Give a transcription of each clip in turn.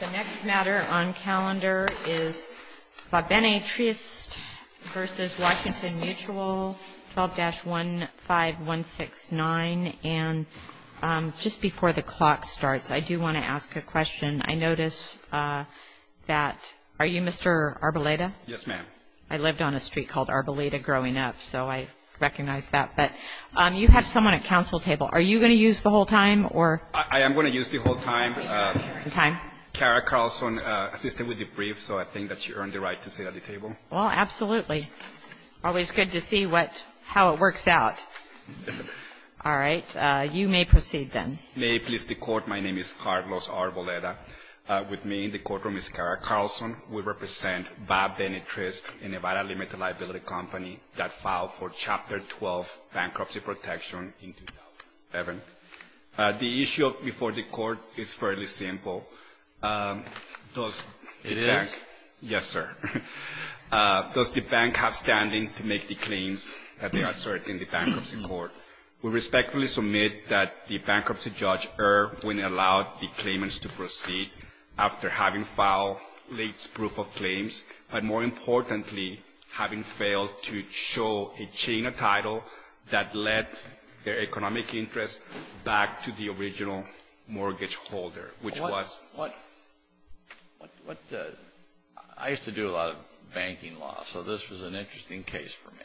The next matter on calendar is Va Bene Trist v. Washington Mutual, 12-15169, and just before the clock starts, I do want to ask a question. I notice that – are you Mr. Arboleda? Yes, ma'am. I lived on a street called Arboleda growing up, so I recognize that. But you have someone at council table. Are you going to use the whole time, or – I am going to use the whole time. Kara Carlson assisted with the brief, so I think that she earned the right to sit at the table. Well, absolutely. Always good to see what – how it works out. All right. You may proceed, then. May it please the Court, my name is Carlos Arboleda. With me in the courtroom is Kara Carlson. We represent Va Bene Trist, a Nevada limited liability company that filed for Chapter 12 bankruptcy protection in 2011. The issue before the Court is fairly simple. It is? Yes, sir. Does the bank have standing to make the claims that they assert in the bankruptcy court? We respectfully submit that the bankruptcy judge erred when it allowed the claimants to proceed after having filed late proof of claims, but more importantly, having failed to show a chain of title that led their economic interest back to the original mortgage holder, which was – What – I used to do a lot of banking law, so this was an interesting case for me.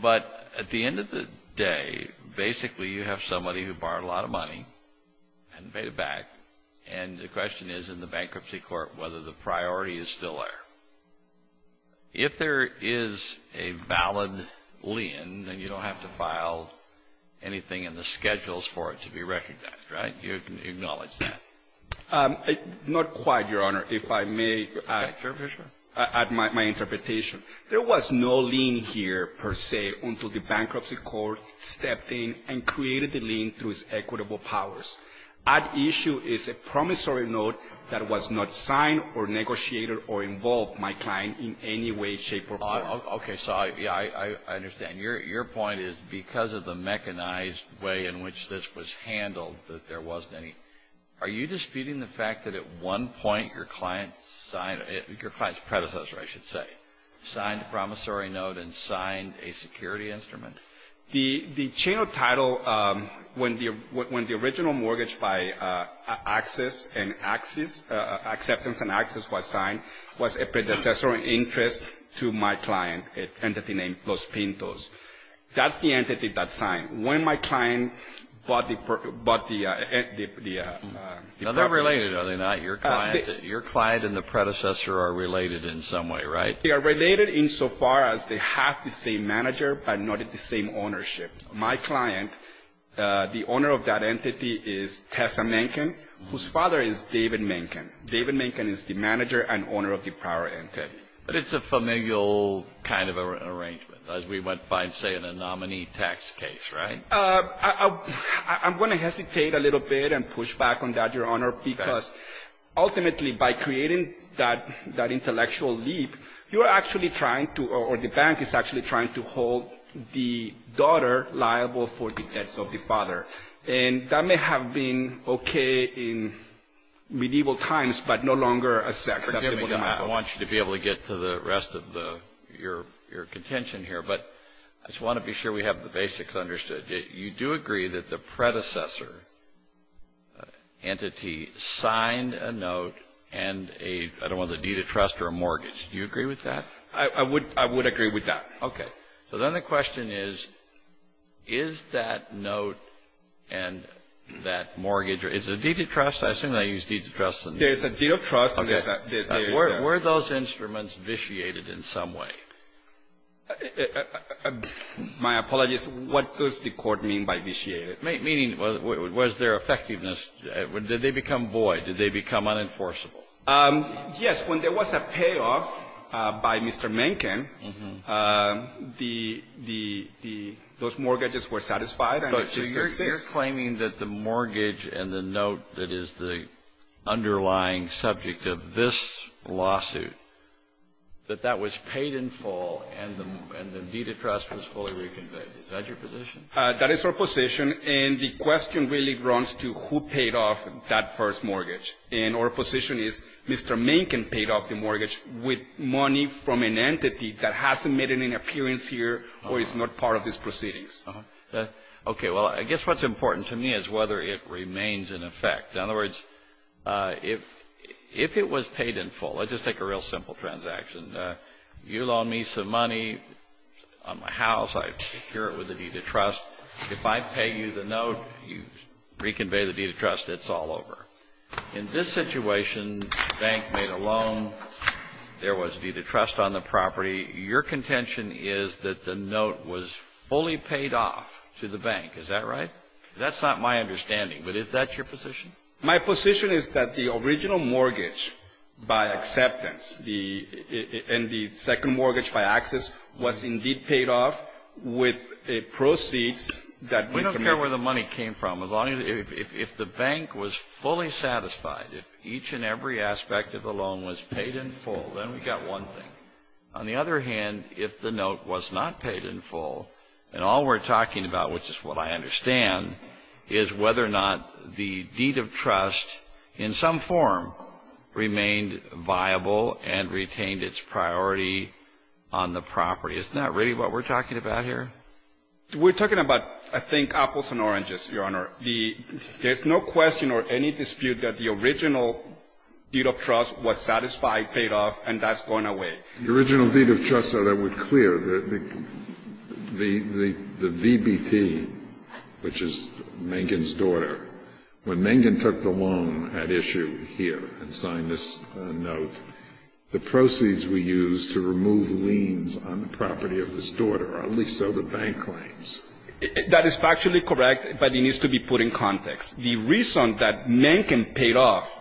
But at the end of the day, basically you have somebody who borrowed a lot of money and paid it back, and the question is in the bankruptcy court whether the priority is still there. If there is a valid lien, then you don't have to file anything in the schedules for it to be recognized, right? You can acknowledge that. Not quite, Your Honor. If I may add my interpretation. There was no lien here, per se, until the bankruptcy court stepped in and created the lien through its equitable powers. That issue is a promissory note that was not signed or negotiated or involved my client in any way, shape, or form. Okay, so I understand. Your point is because of the mechanized way in which this was handled that there wasn't any. Are you disputing the fact that at one point your client signed – your client's predecessor, I should say – signed a promissory note and signed a security instrument? The chain of title, when the original mortgage by acceptance and access was signed, was a predecessor interest to my client, an entity named Los Pintos. That's the entity that signed. When my client bought the – No, they're related, are they not? Your client and the predecessor are related in some way, right? They are related insofar as they have the same manager, but not at the same ownership. My client, the owner of that entity is Tessa Menken, whose father is David Menken. David Menken is the manager and owner of the prior entity. But it's a familial kind of arrangement, as we might find, say, in a nominee tax case, right? I'm going to hesitate a little bit and push back on that, Your Honor, because ultimately, by creating that intellectual leap, you are actually trying to – or the bank is actually trying to hold the daughter liable for the debts of the father. And that may have been okay in medieval times, but no longer acceptable now. I want you to be able to get to the rest of your contention here, but I just want to be sure we have the basics understood. You do agree that the predecessor entity signed a note and a – I don't know whether a deed of trust or a mortgage. Do you agree with that? I would agree with that. Okay. So then the question is, is that note and that mortgage – is it a deed of trust? I assume they use deeds of trust. There is a deed of trust. Were those instruments vitiated in some way? My apologies. What does the court mean by vitiated? Meaning, was there effectiveness? Did they become void? Did they become unenforceable? Yes. When there was a payoff by Mr. Mencken, the – those mortgages were satisfied. You're claiming that the mortgage and the note that is the underlying subject of this lawsuit, that that was paid in full and the deed of trust was fully reconveyed. Is that your position? That is our position, and the question really runs to who paid off that first mortgage. And our position is Mr. Mencken paid off the mortgage with money from an entity that hasn't made an appearance here or is not part of these proceedings. Okay. Well, I guess what's important to me is whether it remains in effect. In other words, if it was paid in full – let's just take a real simple transaction. You loan me some money on my house. I secure it with a deed of trust. If I pay you the note, you reconvey the deed of trust. It's all over. In this situation, bank made a loan. There was a deed of trust on the property. Your contention is that the note was fully paid off to the bank. Is that right? That's not my understanding, but is that your position? My position is that the original mortgage by acceptance and the second mortgage by access was indeed paid off with a proceeds that was – We don't care where the money came from. As long as – if the bank was fully satisfied, if each and every aspect of the loan was paid in full, then we've got one thing. On the other hand, if the note was not paid in full, and all we're talking about, which is what I understand, is whether or not the deed of trust, in some form, remained viable and retained its priority on the property. Isn't that really what we're talking about here? We're talking about, I think, apples and oranges, Your Honor. There's no question or any dispute that the original deed of trust was satisfied, paid off, and that's gone away. The original deed of trust, so that we're clear, the VBT, which is Mengen's daughter, when Mengen took the loan at issue here and signed this note, the proceeds were used to remove liens on the property of this daughter, or at least so the bank claims. That is factually correct, but it needs to be put in context. The reason that Mengen paid off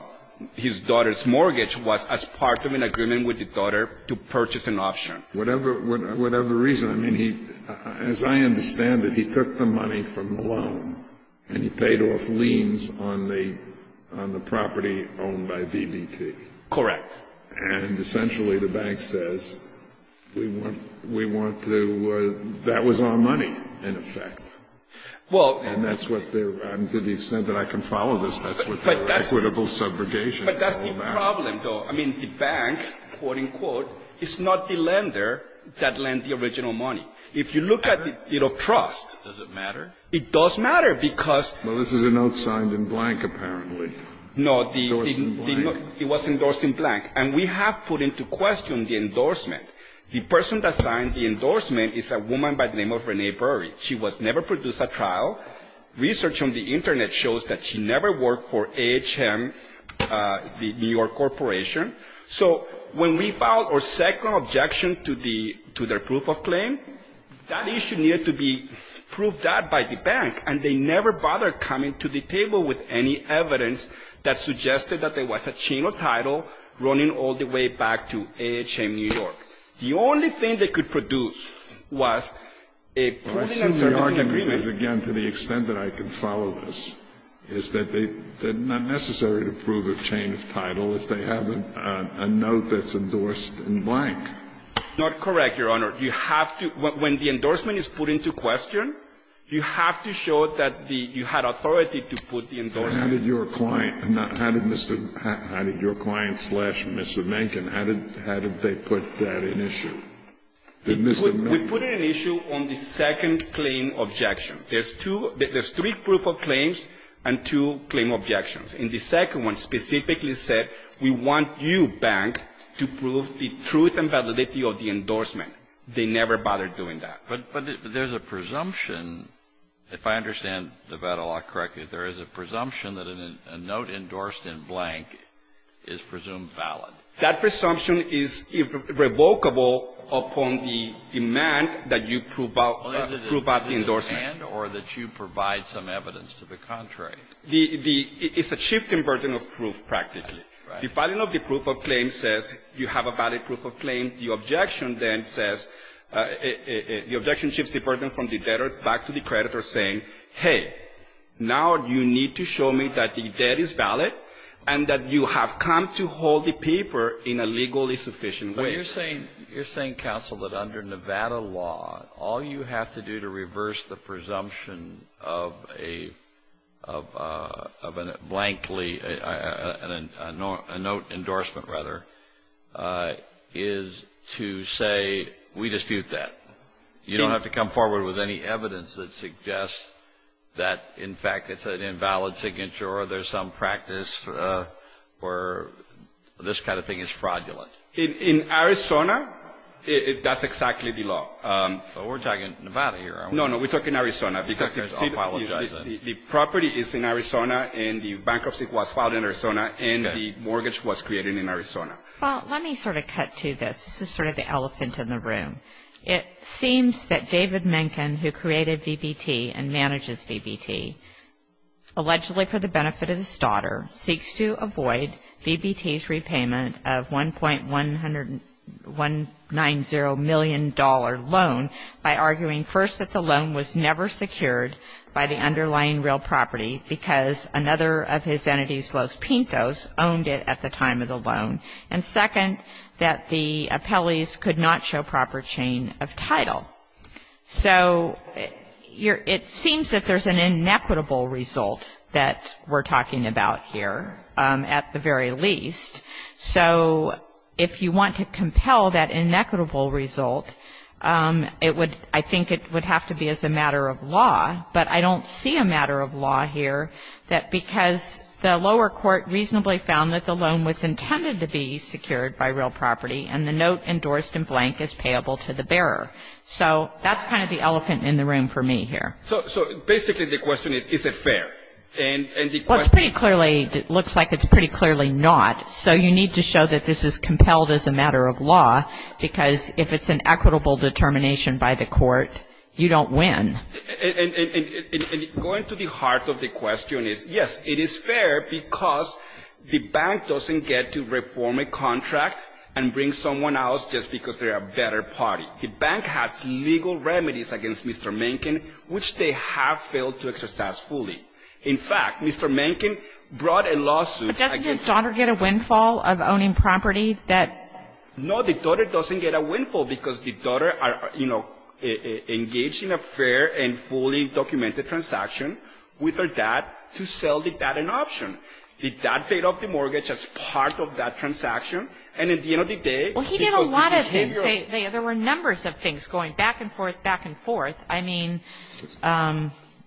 his daughter's mortgage was as part of an agreement with the daughter to purchase an option. Whatever the reason, as I understand it, he took the money from the loan and he paid off liens on the property owned by VBT. Correct. And essentially the bank says, that was our money, in effect. And that's what they're, to the extent that I can follow this, that's what their equitable subrogation is all about. But that's the problem, though. I mean, the bank, quote, unquote, is not the lender that lent the original money. If you look at the deed of trust. Does it matter? It does matter, because. Well, this is a note signed in blank, apparently. No, the. Endorsed in blank. It was endorsed in blank. And we have put into question the endorsement. The person that signed the endorsement is a woman by the name of Renee Burry. She was never produced at trial. Research on the Internet shows that she never worked for AHM, the New York Corporation. So when we filed our second objection to their proof of claim, that issue needed to be proved that by the bank. And they never bothered coming to the table with any evidence that suggested that there was a chain of title running all the way back to AHM New York. The only thing they could produce was a. I assume the argument is, again, to the extent that I can follow this, is that they're not necessary to prove a chain of title if they have a note that's endorsed in blank. Not correct, Your Honor. You have to. When the endorsement is put into question, you have to show that you had authority to put the endorsement. How did your client slash Mr. Menken, how did they put that in issue? We put it in issue on the second claim objection. There's three proof of claims and two claim objections. And the second one specifically said, we want you, bank, to prove the truth and validity of the endorsement. They never bothered doing that. But there's a presumption. If I understand Nevada law correctly, there is a presumption that a note endorsed in blank is presumed valid. That presumption is revocable upon the demand that you prove out the endorsement. Or that you provide some evidence to the contrary. It's a shift in burden of proof, practically. The filing of the proof of claim says you have a valid proof of claim. The objection then says, the objection shifts the burden from the debtor back to the creditor saying, hey, now you need to show me that the debt is valid and that you have come to hold the paper in a legally sufficient way. You're saying, counsel, that under Nevada law, all you have to do to reverse the presumption of a blankly, a note endorsement, rather, is to say, we dispute that. You don't have to come forward with any evidence that suggests that, in fact, it's an invalid signature or there's some practice where this kind of thing is fraudulent. In Arizona, that's exactly the law. But we're talking Nevada here, aren't we? No, no, we're talking Arizona because the property is in Arizona and the bankruptcy was filed in Arizona and the mortgage was created in Arizona. Well, let me sort of cut to this. This is sort of the elephant in the room. It seems that David Menken, who created VBT and manages VBT, allegedly for the benefit of his daughter, seeks to avoid VBT's repayment of $1.190 million loan by arguing, first, that the loan was never secured by the underlying real property because another of his entities, Los Pintos, owned it at the time of the loan, and second, that the appellees could not show proper chain of title. So it seems that there's an inequitable result that we're talking about here, at the very least. So if you want to compel that inequitable result, I think it would have to be as a matter of law, but I don't see a matter of law here because the lower court reasonably found that the loan was intended to be secured by real property and the note endorsed in blank is payable to the bearer. So that's kind of the elephant in the room for me here. So basically the question is, is it fair? Well, it's pretty clearly, it looks like it's pretty clearly not. So you need to show that this is compelled as a matter of law because if it's an equitable determination by the court, you don't win. And going to the heart of the question is, yes, it is fair because the bank doesn't get to reform a contract and bring someone else just because they're a better party. The bank has legal remedies against Mr. Mankin, which they have failed to exercise fully. In fact, Mr. Mankin brought a lawsuit against... But doesn't his daughter get a windfall of owning property that... No, the daughter doesn't get a windfall because the daughter, you know, engaged in a fair and fully documented transaction with her dad to sell the dad an option. The dad paid off the mortgage as part of that transaction and at the end of the day... Well, he did a lot of things. There were numbers of things going back and forth, back and forth. I mean,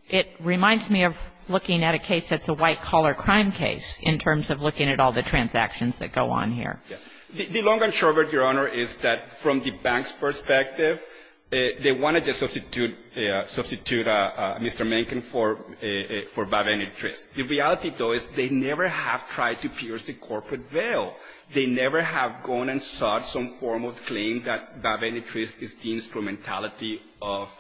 it reminds me of looking at a case that's a white-collar crime case in terms of looking at all the transactions that go on here. The long and short of it, Your Honor, is that from the bank's perspective, they wanted to substitute Mr. Mankin for Babenitris. The reality, though, is they never have tried to pierce the corporate veil. They never have gone and sought some form of claim that Babenitris is the instrumentality of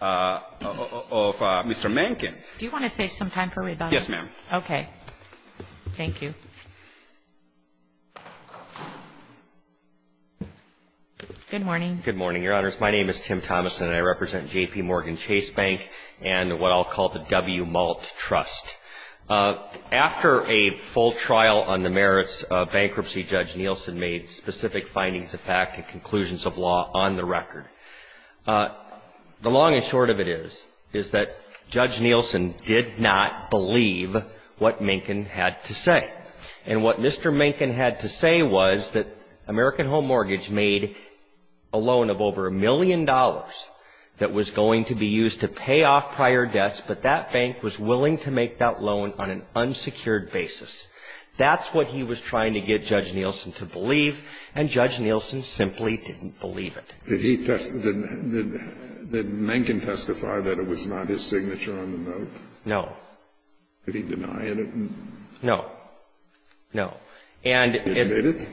Mr. Mankin. Do you want to save some time for rebuttal? Yes, ma'am. Okay. Thank you. Good morning. Good morning, Your Honors. My name is Tim Thomas and I represent J.P. Morgan Chase Bank and what I'll call the W. Malt Trust. After a full trial on the merits of bankruptcy, Judge Nielsen made specific findings of fact and conclusions of law on the record. The long and short of it is, is that Judge Nielsen did not believe what Mankin had to say. And what Mr. Mankin had to say was that American Home Mortgage made a loan of over a million dollars that was going to be used to pay off prior debts, but that bank was willing to make that loan on an unsecured basis. That's what he was trying to get Judge Nielsen to believe and Judge Nielsen simply didn't believe it. Did he testify, did Mankin testify that it was not his signature on the note? No. Did he deny it? No. No. And did he admit it?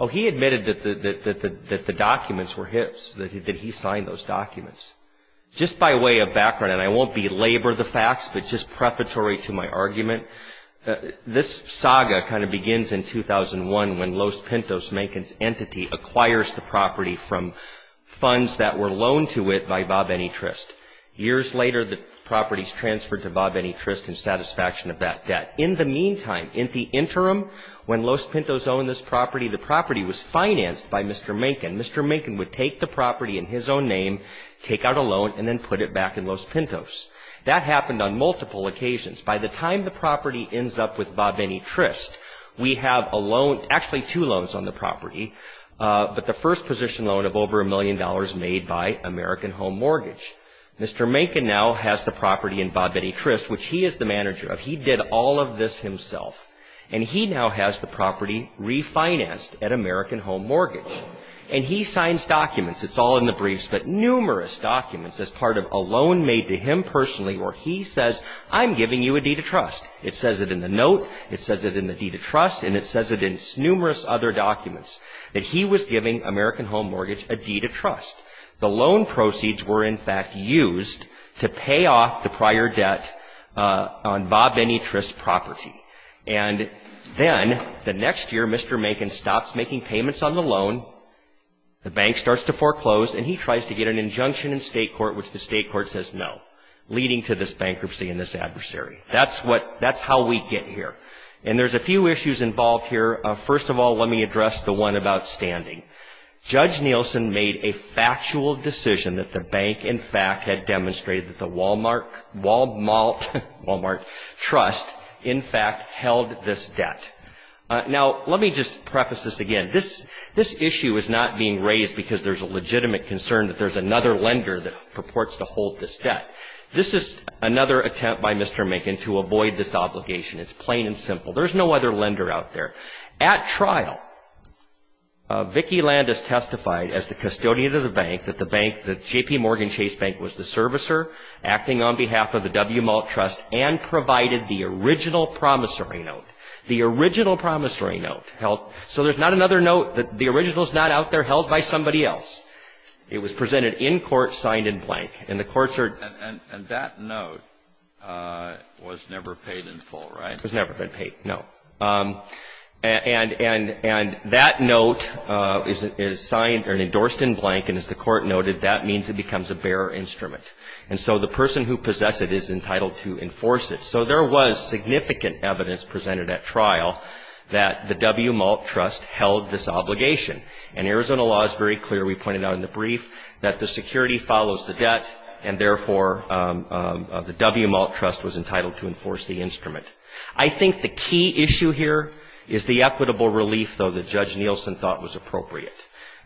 Oh, he admitted that the documents were his, that he signed those documents. Just by way of background, and I won't belabor the facts, but just prefatory to my argument, this saga kind of begins in 2001 when Los Pintos, Mankin's entity, acquires the property from funds that were loaned to it by Bob Anytrist. Years later, the property is transferred to Bob Anytrist in satisfaction of that debt. In the meantime, in the interim, when Los Pintos owned this property, the property was financed by Mr. Mankin. Mr. Mankin would take the property in his own name, take out a loan, and then put it back in Los Pintos. That happened on multiple occasions. By the time the property ends up with Bob Anytrist, we have a loan, actually two loans on the property, but the first position loan of over a million dollars made by American Home Mortgage. Mr. Mankin now has the property in Bob Anytrist, which he is the manager of. He did all of this himself. And he now has the property refinanced at American Home Mortgage. And he signs documents. It's all in the briefs, but numerous documents as part of a loan made to him personally where he says, I'm giving you a deed of trust. It says it in the note. It says it in the deed of trust. And it says it in numerous other documents that he was giving American Home Mortgage a deed of trust. The loan proceeds were, in fact, used to pay off the prior debt on Bob Anytrist's property. And then, the next year, Mr. Mankin stops making payments on the loan. The bank starts to foreclose. And he tries to get an injunction in state court, which the state court says no, leading to this bankruptcy and this adversary. That's how we get here. And there's a few issues involved here. First of all, let me address the one about standing. Judge Nielsen made a factual decision that the bank, in fact, had demonstrated that the Walmart Trust, in fact, held this debt. Now, let me just preface this again. This issue is not being raised because there's a legitimate concern that there's another lender that purports to hold this debt. This is another attempt by Mr. Mankin to avoid this obligation. It's plain and simple. There's no other lender out there. At trial, Vicki Landis testified as the custodian of the bank that JPMorgan Chase Bank was the servicer acting on behalf of the WMALT Trust and provided the original promissory note. The original promissory note held. So, there's not another note. The original's not out there held by somebody else. It was presented in court, signed in blank. And the courts are... And that note was never paid in full, right? And that note is signed and endorsed in blank. And as the court noted, that means it becomes a bearer instrument. And so, the person who possessed it is entitled to enforce it. So, there was significant evidence presented at trial that the WMALT Trust held this obligation. And Arizona law is very clear. We pointed out in the brief that the security follows the debt. And therefore, the WMALT Trust was entitled to enforce the instrument. I think the key issue here is the equitable relief, though, that Judge Nielsen thought was appropriate.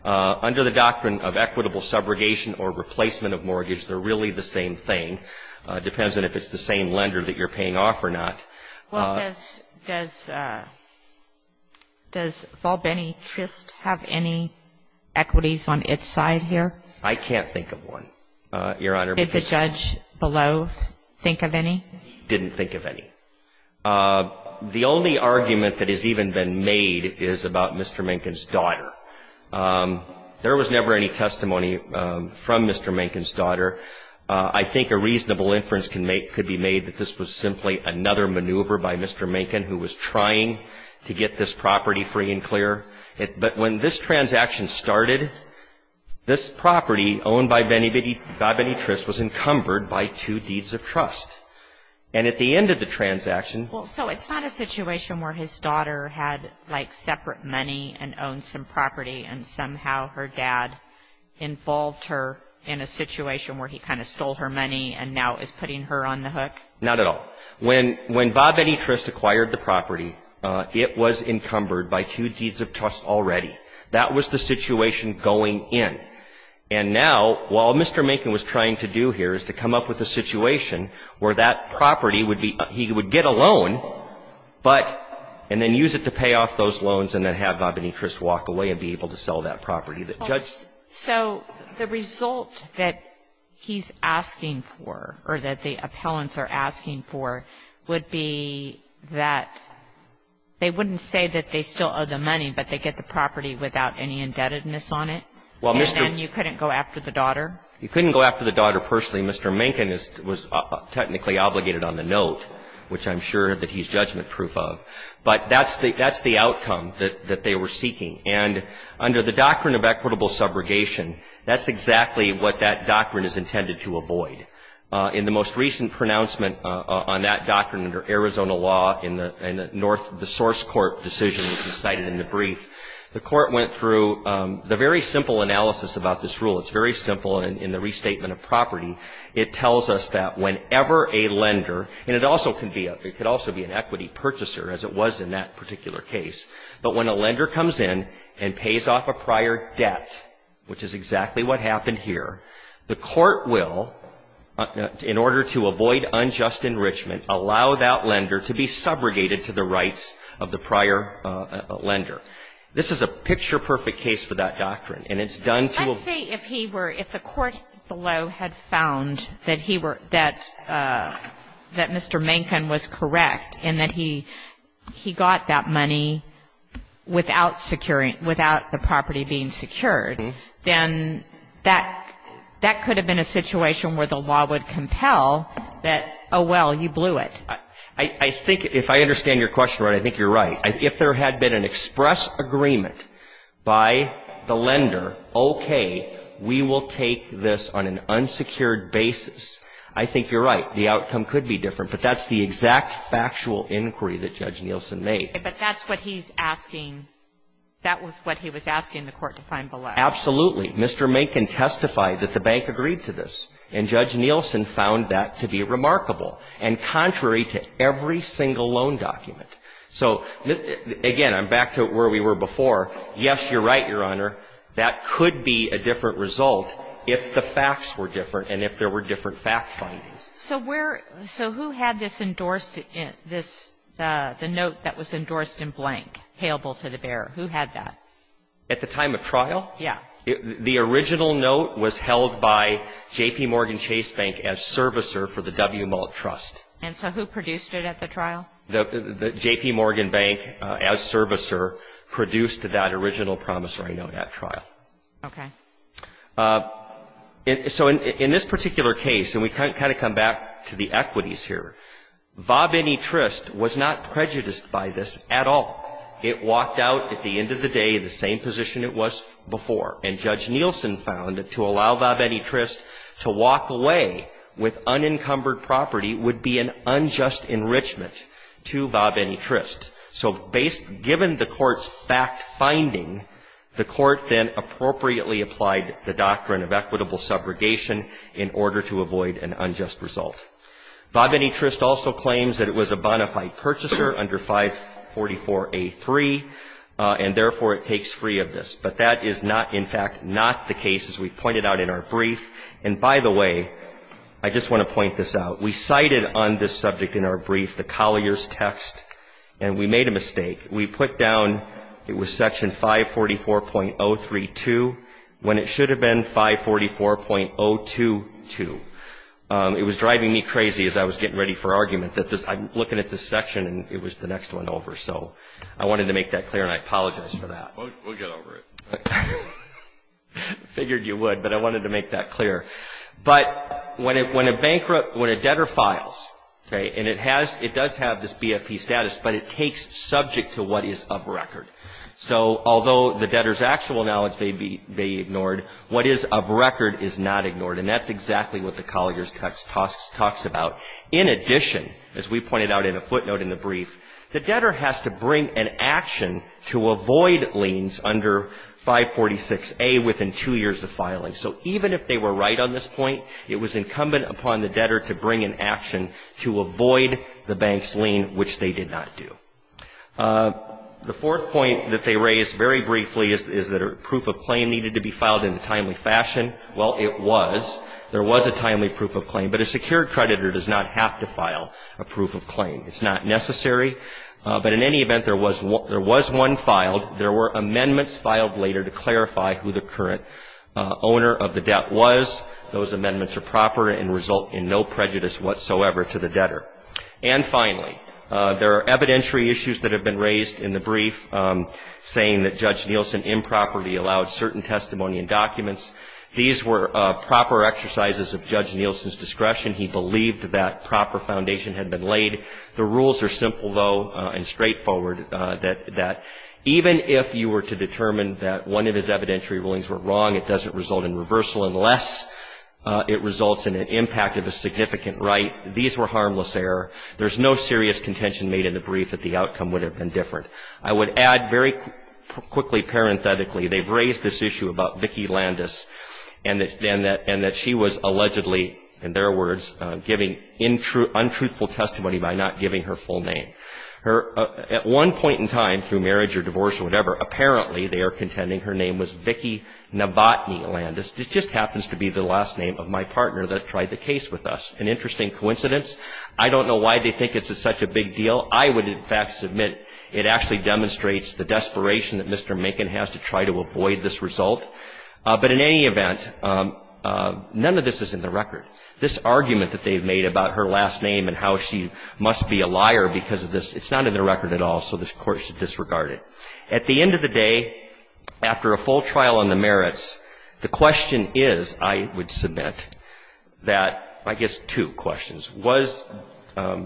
Under the doctrine of equitable subrogation or replacement of mortgage, they're really the same thing. Depends on if it's the same lender that you're paying off or not. Well, does... Does Volbeny Trist have any equities on its side here? I can't think of one, Your Honor. Did the judge below think of any? Didn't think of any. The only argument that has even been made is about Mr. Mencken's daughter. There was never any testimony from Mr. Mencken's daughter. I think a reasonable inference can make... could be made that this was simply another maneuver by Mr. Mencken who was trying to get this property free and clear. But when this transaction started, this property owned by Volbeny Trist was encumbered by two deeds of trust. And at the end of the transaction... Well, so it's not a situation where his daughter had, like, separate money and owned some property and somehow her dad involved her in a situation where he kind of stole her money and now is putting her on the hook? Not at all. When Volbeny Trist acquired the property, it was encumbered by two deeds of trust already. That was the situation going in. And now, what Mr. Mencken was trying to do here is to come up with a situation where that property would be... he would get a loan, but... So the result that he's asking for, or that the appellants are asking for, would be that they wouldn't say that they still owe the money, but they get the property without any indebtedness on it? Well, Mr.... And then you couldn't go after the daughter? You couldn't go after the daughter personally. Mr. Mencken was technically obligated on the note, which I'm sure that he's judgment-proof of. But that's the outcome, that they were seeking. And under the doctrine of equitable subrogation, that's exactly what that doctrine is intended to avoid. In the most recent pronouncement on that doctrine under Arizona law, in the source court decision, which was cited in the brief, the court went through the very simple analysis about this rule. It's very simple in the restatement of property. It tells us that whenever a lender, and it could also be an equity purchaser, as it was in that particular case, but when a lender comes in and pays off a prior debt, which is exactly what happened here, the court will, in order to avoid unjust enrichment, allow that lender to be subrogated to the rights of the prior lender. This is a picture-perfect case for that doctrine. And it's done to... Let's say if the court below had found that Mr. Mencken was correct, and that he got that money without the property being secured, then that could have been a situation where the law would compel that, oh, well, you blew it. I think, if I understand your question right, I think you're right. If there had been an express agreement by the lender, okay, we will take this on an unsecured basis, I think you're right. The outcome could be different. But that's the exact factual inquiry that Judge Nielsen made. But that's what he's asking... That was what he was asking the court to find below. Absolutely. Mr. Mencken testified that the bank agreed to this, and Judge Nielsen found that to be remarkable, and contrary to every single loan document. So, again, I'm back to where we were before. Yes, you're right, Your Honor. That could be a different result if the facts were different and if there were different fact findings. So who had the note that was endorsed in blank, payable to the bearer? Who had that? At the time of trial? Yeah. The original note was held by J.P. Morgan Chase Bank as servicer for the W. Malt Trust. And so who produced it at the trial? J.P. Morgan Bank, as servicer, produced that original promissory note at trial. Okay. So in this particular case, and we can kind of come back to the equities here, Vabenitrist was not prejudiced by this at all. It walked out, at the end of the day, the same position it was before. And Judge Nielsen found that to allow Vabenitrist to walk away with unencumbered property would be an unjust enrichment to Vabenitrist. So given the court's fact finding, the court then appropriately applied the doctrine of equitable subrogation in order to avoid an unjust result. Vabenitrist also claims that it was a bona fide purchaser under 544A3, and therefore it takes free of this. But that is not, in fact, not the case, as we pointed out in our brief. And by the way, I just want to point this out. We cited on this subject in our brief the Collier's text, and we made a mistake. We put down it was Section 544.032 when it should have been 544.022. It was driving me crazy as I was getting ready for argument that I'm looking at this section, and it was the next one over. So I wanted to make that clear, and I apologize for that. We'll get over it. I figured you would, but I wanted to make that clear. But when a debtor files, and it does have this BFP status, but it takes subject to what is of record. So although the debtor's actual knowledge may be ignored, what is of record is not ignored, and that's exactly what the Collier's text talks about. In addition, as we pointed out in a footnote in the brief, the debtor has to bring an action to avoid liens under 546A within two years of filing. So even if they were right on this point, it was incumbent upon the debtor to bring an action to avoid the bank's lien, which they did not do. The fourth point that they raised very briefly is that a proof of claim needed to be filed in a timely fashion. Well, it was. There was a timely proof of claim, but a secured creditor does not have to file a proof of claim. It's not necessary. But in any event, there was one filed. There were amendments filed later to clarify who the current owner of the debt was. Those amendments are proper and result in no prejudice whatsoever. And finally, there are evidentiary issues that have been raised in the brief saying that Judge Nielsen improperly allowed certain testimony and documents. These were proper exercises of Judge Nielsen's discretion. He believed that that proper foundation had been laid. The rules are simple, though, and straightforward, that even if you were to determine that one of his evidentiary rulings were wrong, it doesn't result in reversal unless it results in an impact of a significant right. These were harmless error. There's no serious contention made in the brief that the outcome would have been different. I would add very quickly, parenthetically, they've raised this issue about Vicki Landis and that she was allegedly, in their words, giving untruthful testimony by not giving her full name. At one point in time, through marriage or divorce or whatever, apparently they are contending her name was Vicki Novotny Landis. This just happens to be the last name of my partner that tried the case with us. It's an interesting coincidence. I don't know why they think it's such a big deal. I would, in fact, submit it actually demonstrates the desperation that Mr. Macon has to try to avoid this result. But in any event, none of this is in the record. This argument that they've made about her last name and how she must be a liar because of this, it's not in the record at all, so this Court should disregard it. At the end of the day, after a full trial on the merits, the question is, I would submit, that, I guess, two questions. Was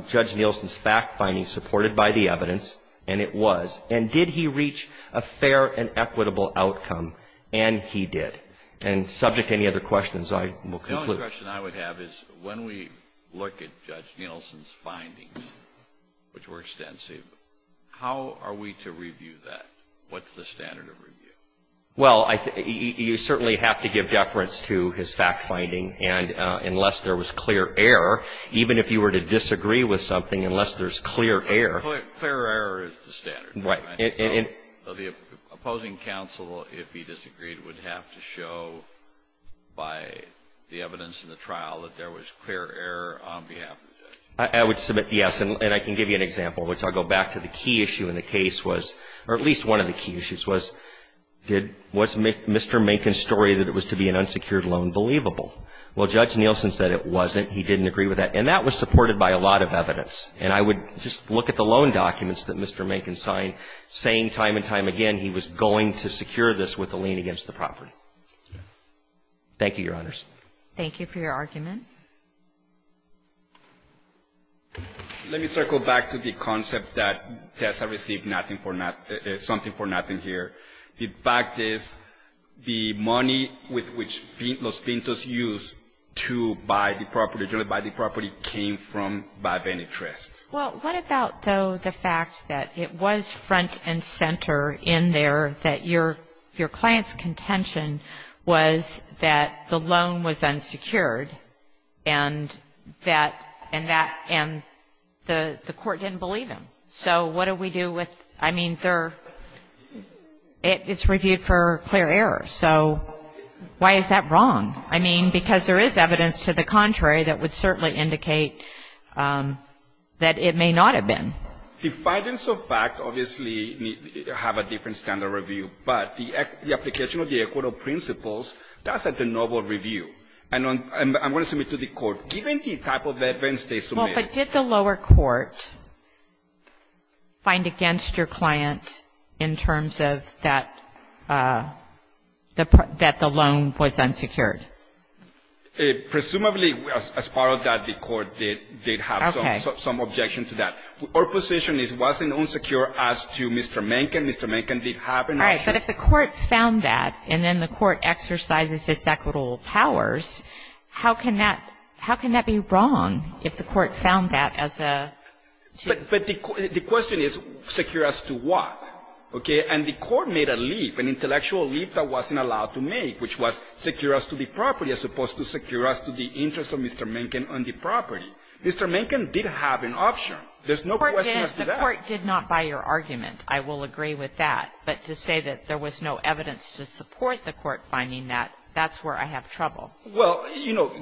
Judge Nielsen's fact finding supported by the evidence? And it was. And did he reach a fair and equitable outcome? And he did. And subject to any other questions, I will conclude. The only question I would have is, when we look at Judge Nielsen's findings, which were extensive, how are we to review that? What's the standard of review? Well, you certainly have to give deference to his fact finding. And unless there was clear error, even if you were to disagree with something, unless there's clear error. Clear error is the standard. So the opposing counsel, if he disagreed, would have to show by the evidence in the trial that there was clear error on behalf of Judge Nielsen. I would submit, yes. And I can give you an example, which I'll go back to. The key issue in the case was, or at least one of the key issues was, was Mr. Macon's story that it was to be an unsecured loan believable? Well, Judge Nielsen said it wasn't. He didn't agree with that. And that was supported by a lot of evidence. And I would just look at the loan documents that Mr. Macon signed, saying time and time again, he was going to secure this with a lien against the property. Thank you, Your Honors. Thank you for your argument. Let me circle back to the concept that Tessa received something for nothing here. The fact is, the money with which Los Pintos used to buy the property, generally buy the property, came from, by Benetrist. Well, what about, though, the fact that it was front and center in there, that your client's contention was that the loan was unsecured, and that, and that, and the court didn't believe him? So what do we do with, I mean, there, it's reviewed for clear error. So why is that wrong? I mean, because there is evidence to the contrary that would certainly indicate that it may not have been. The findings of fact, obviously, have a different standard review. But the application of the equitable principles, that's at the noble review. And I'm going to submit to the court, given the type of evidence they submitted. But did the lower court find against your client in terms of that the loan was unsecured? Presumably, as part of that, the court did have some objection to that. Our position is it wasn't unsecure as to Mr. Menken. Mr. Menken did have an option. All right, but if the court found that, and then the court exercises its equitable powers, how can that be wrong if the court found that as a? But the question is secure as to what? Okay? And the court made a leap, an intellectual leap that wasn't allowed to make, which was secure as to the property as opposed to secure as to the interest of Mr. Menken on the property. Mr. Menken did have an option. There's no question as to that. The court did not buy your argument. I will agree with that. But to say that there was no evidence to support the court finding that, that's where I have trouble. Well, you know,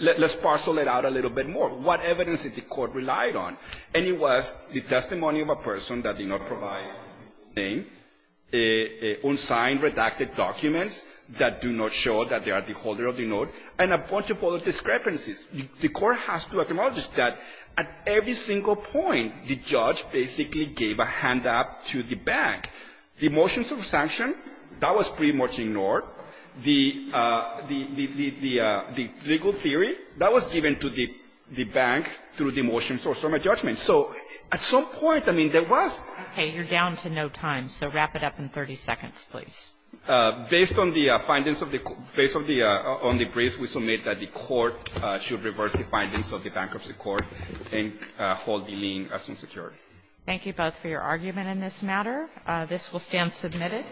let's parcel it out a little bit more. What evidence did the court rely on? And it was the testimony of a person that did not provide a name, unsigned redacted documents that do not show that they are the holder of the note, and a bunch of other discrepancies. The court has to acknowledge that at every single point, the judge basically gave a hand up to the bank. The motions of sanction, that was pretty much ignored. The legal theory, that was given to the bank through the motions or summary judgment. So at some point, I mean, there was — Okay. You're down to no time, so wrap it up in 30 seconds, please. Based on the findings of the — based on the briefs, we submit that the court should reverse the findings of the bankruptcy court and hold the lien as unsecured. Thank you both for your argument in this matter. This will stand submitted.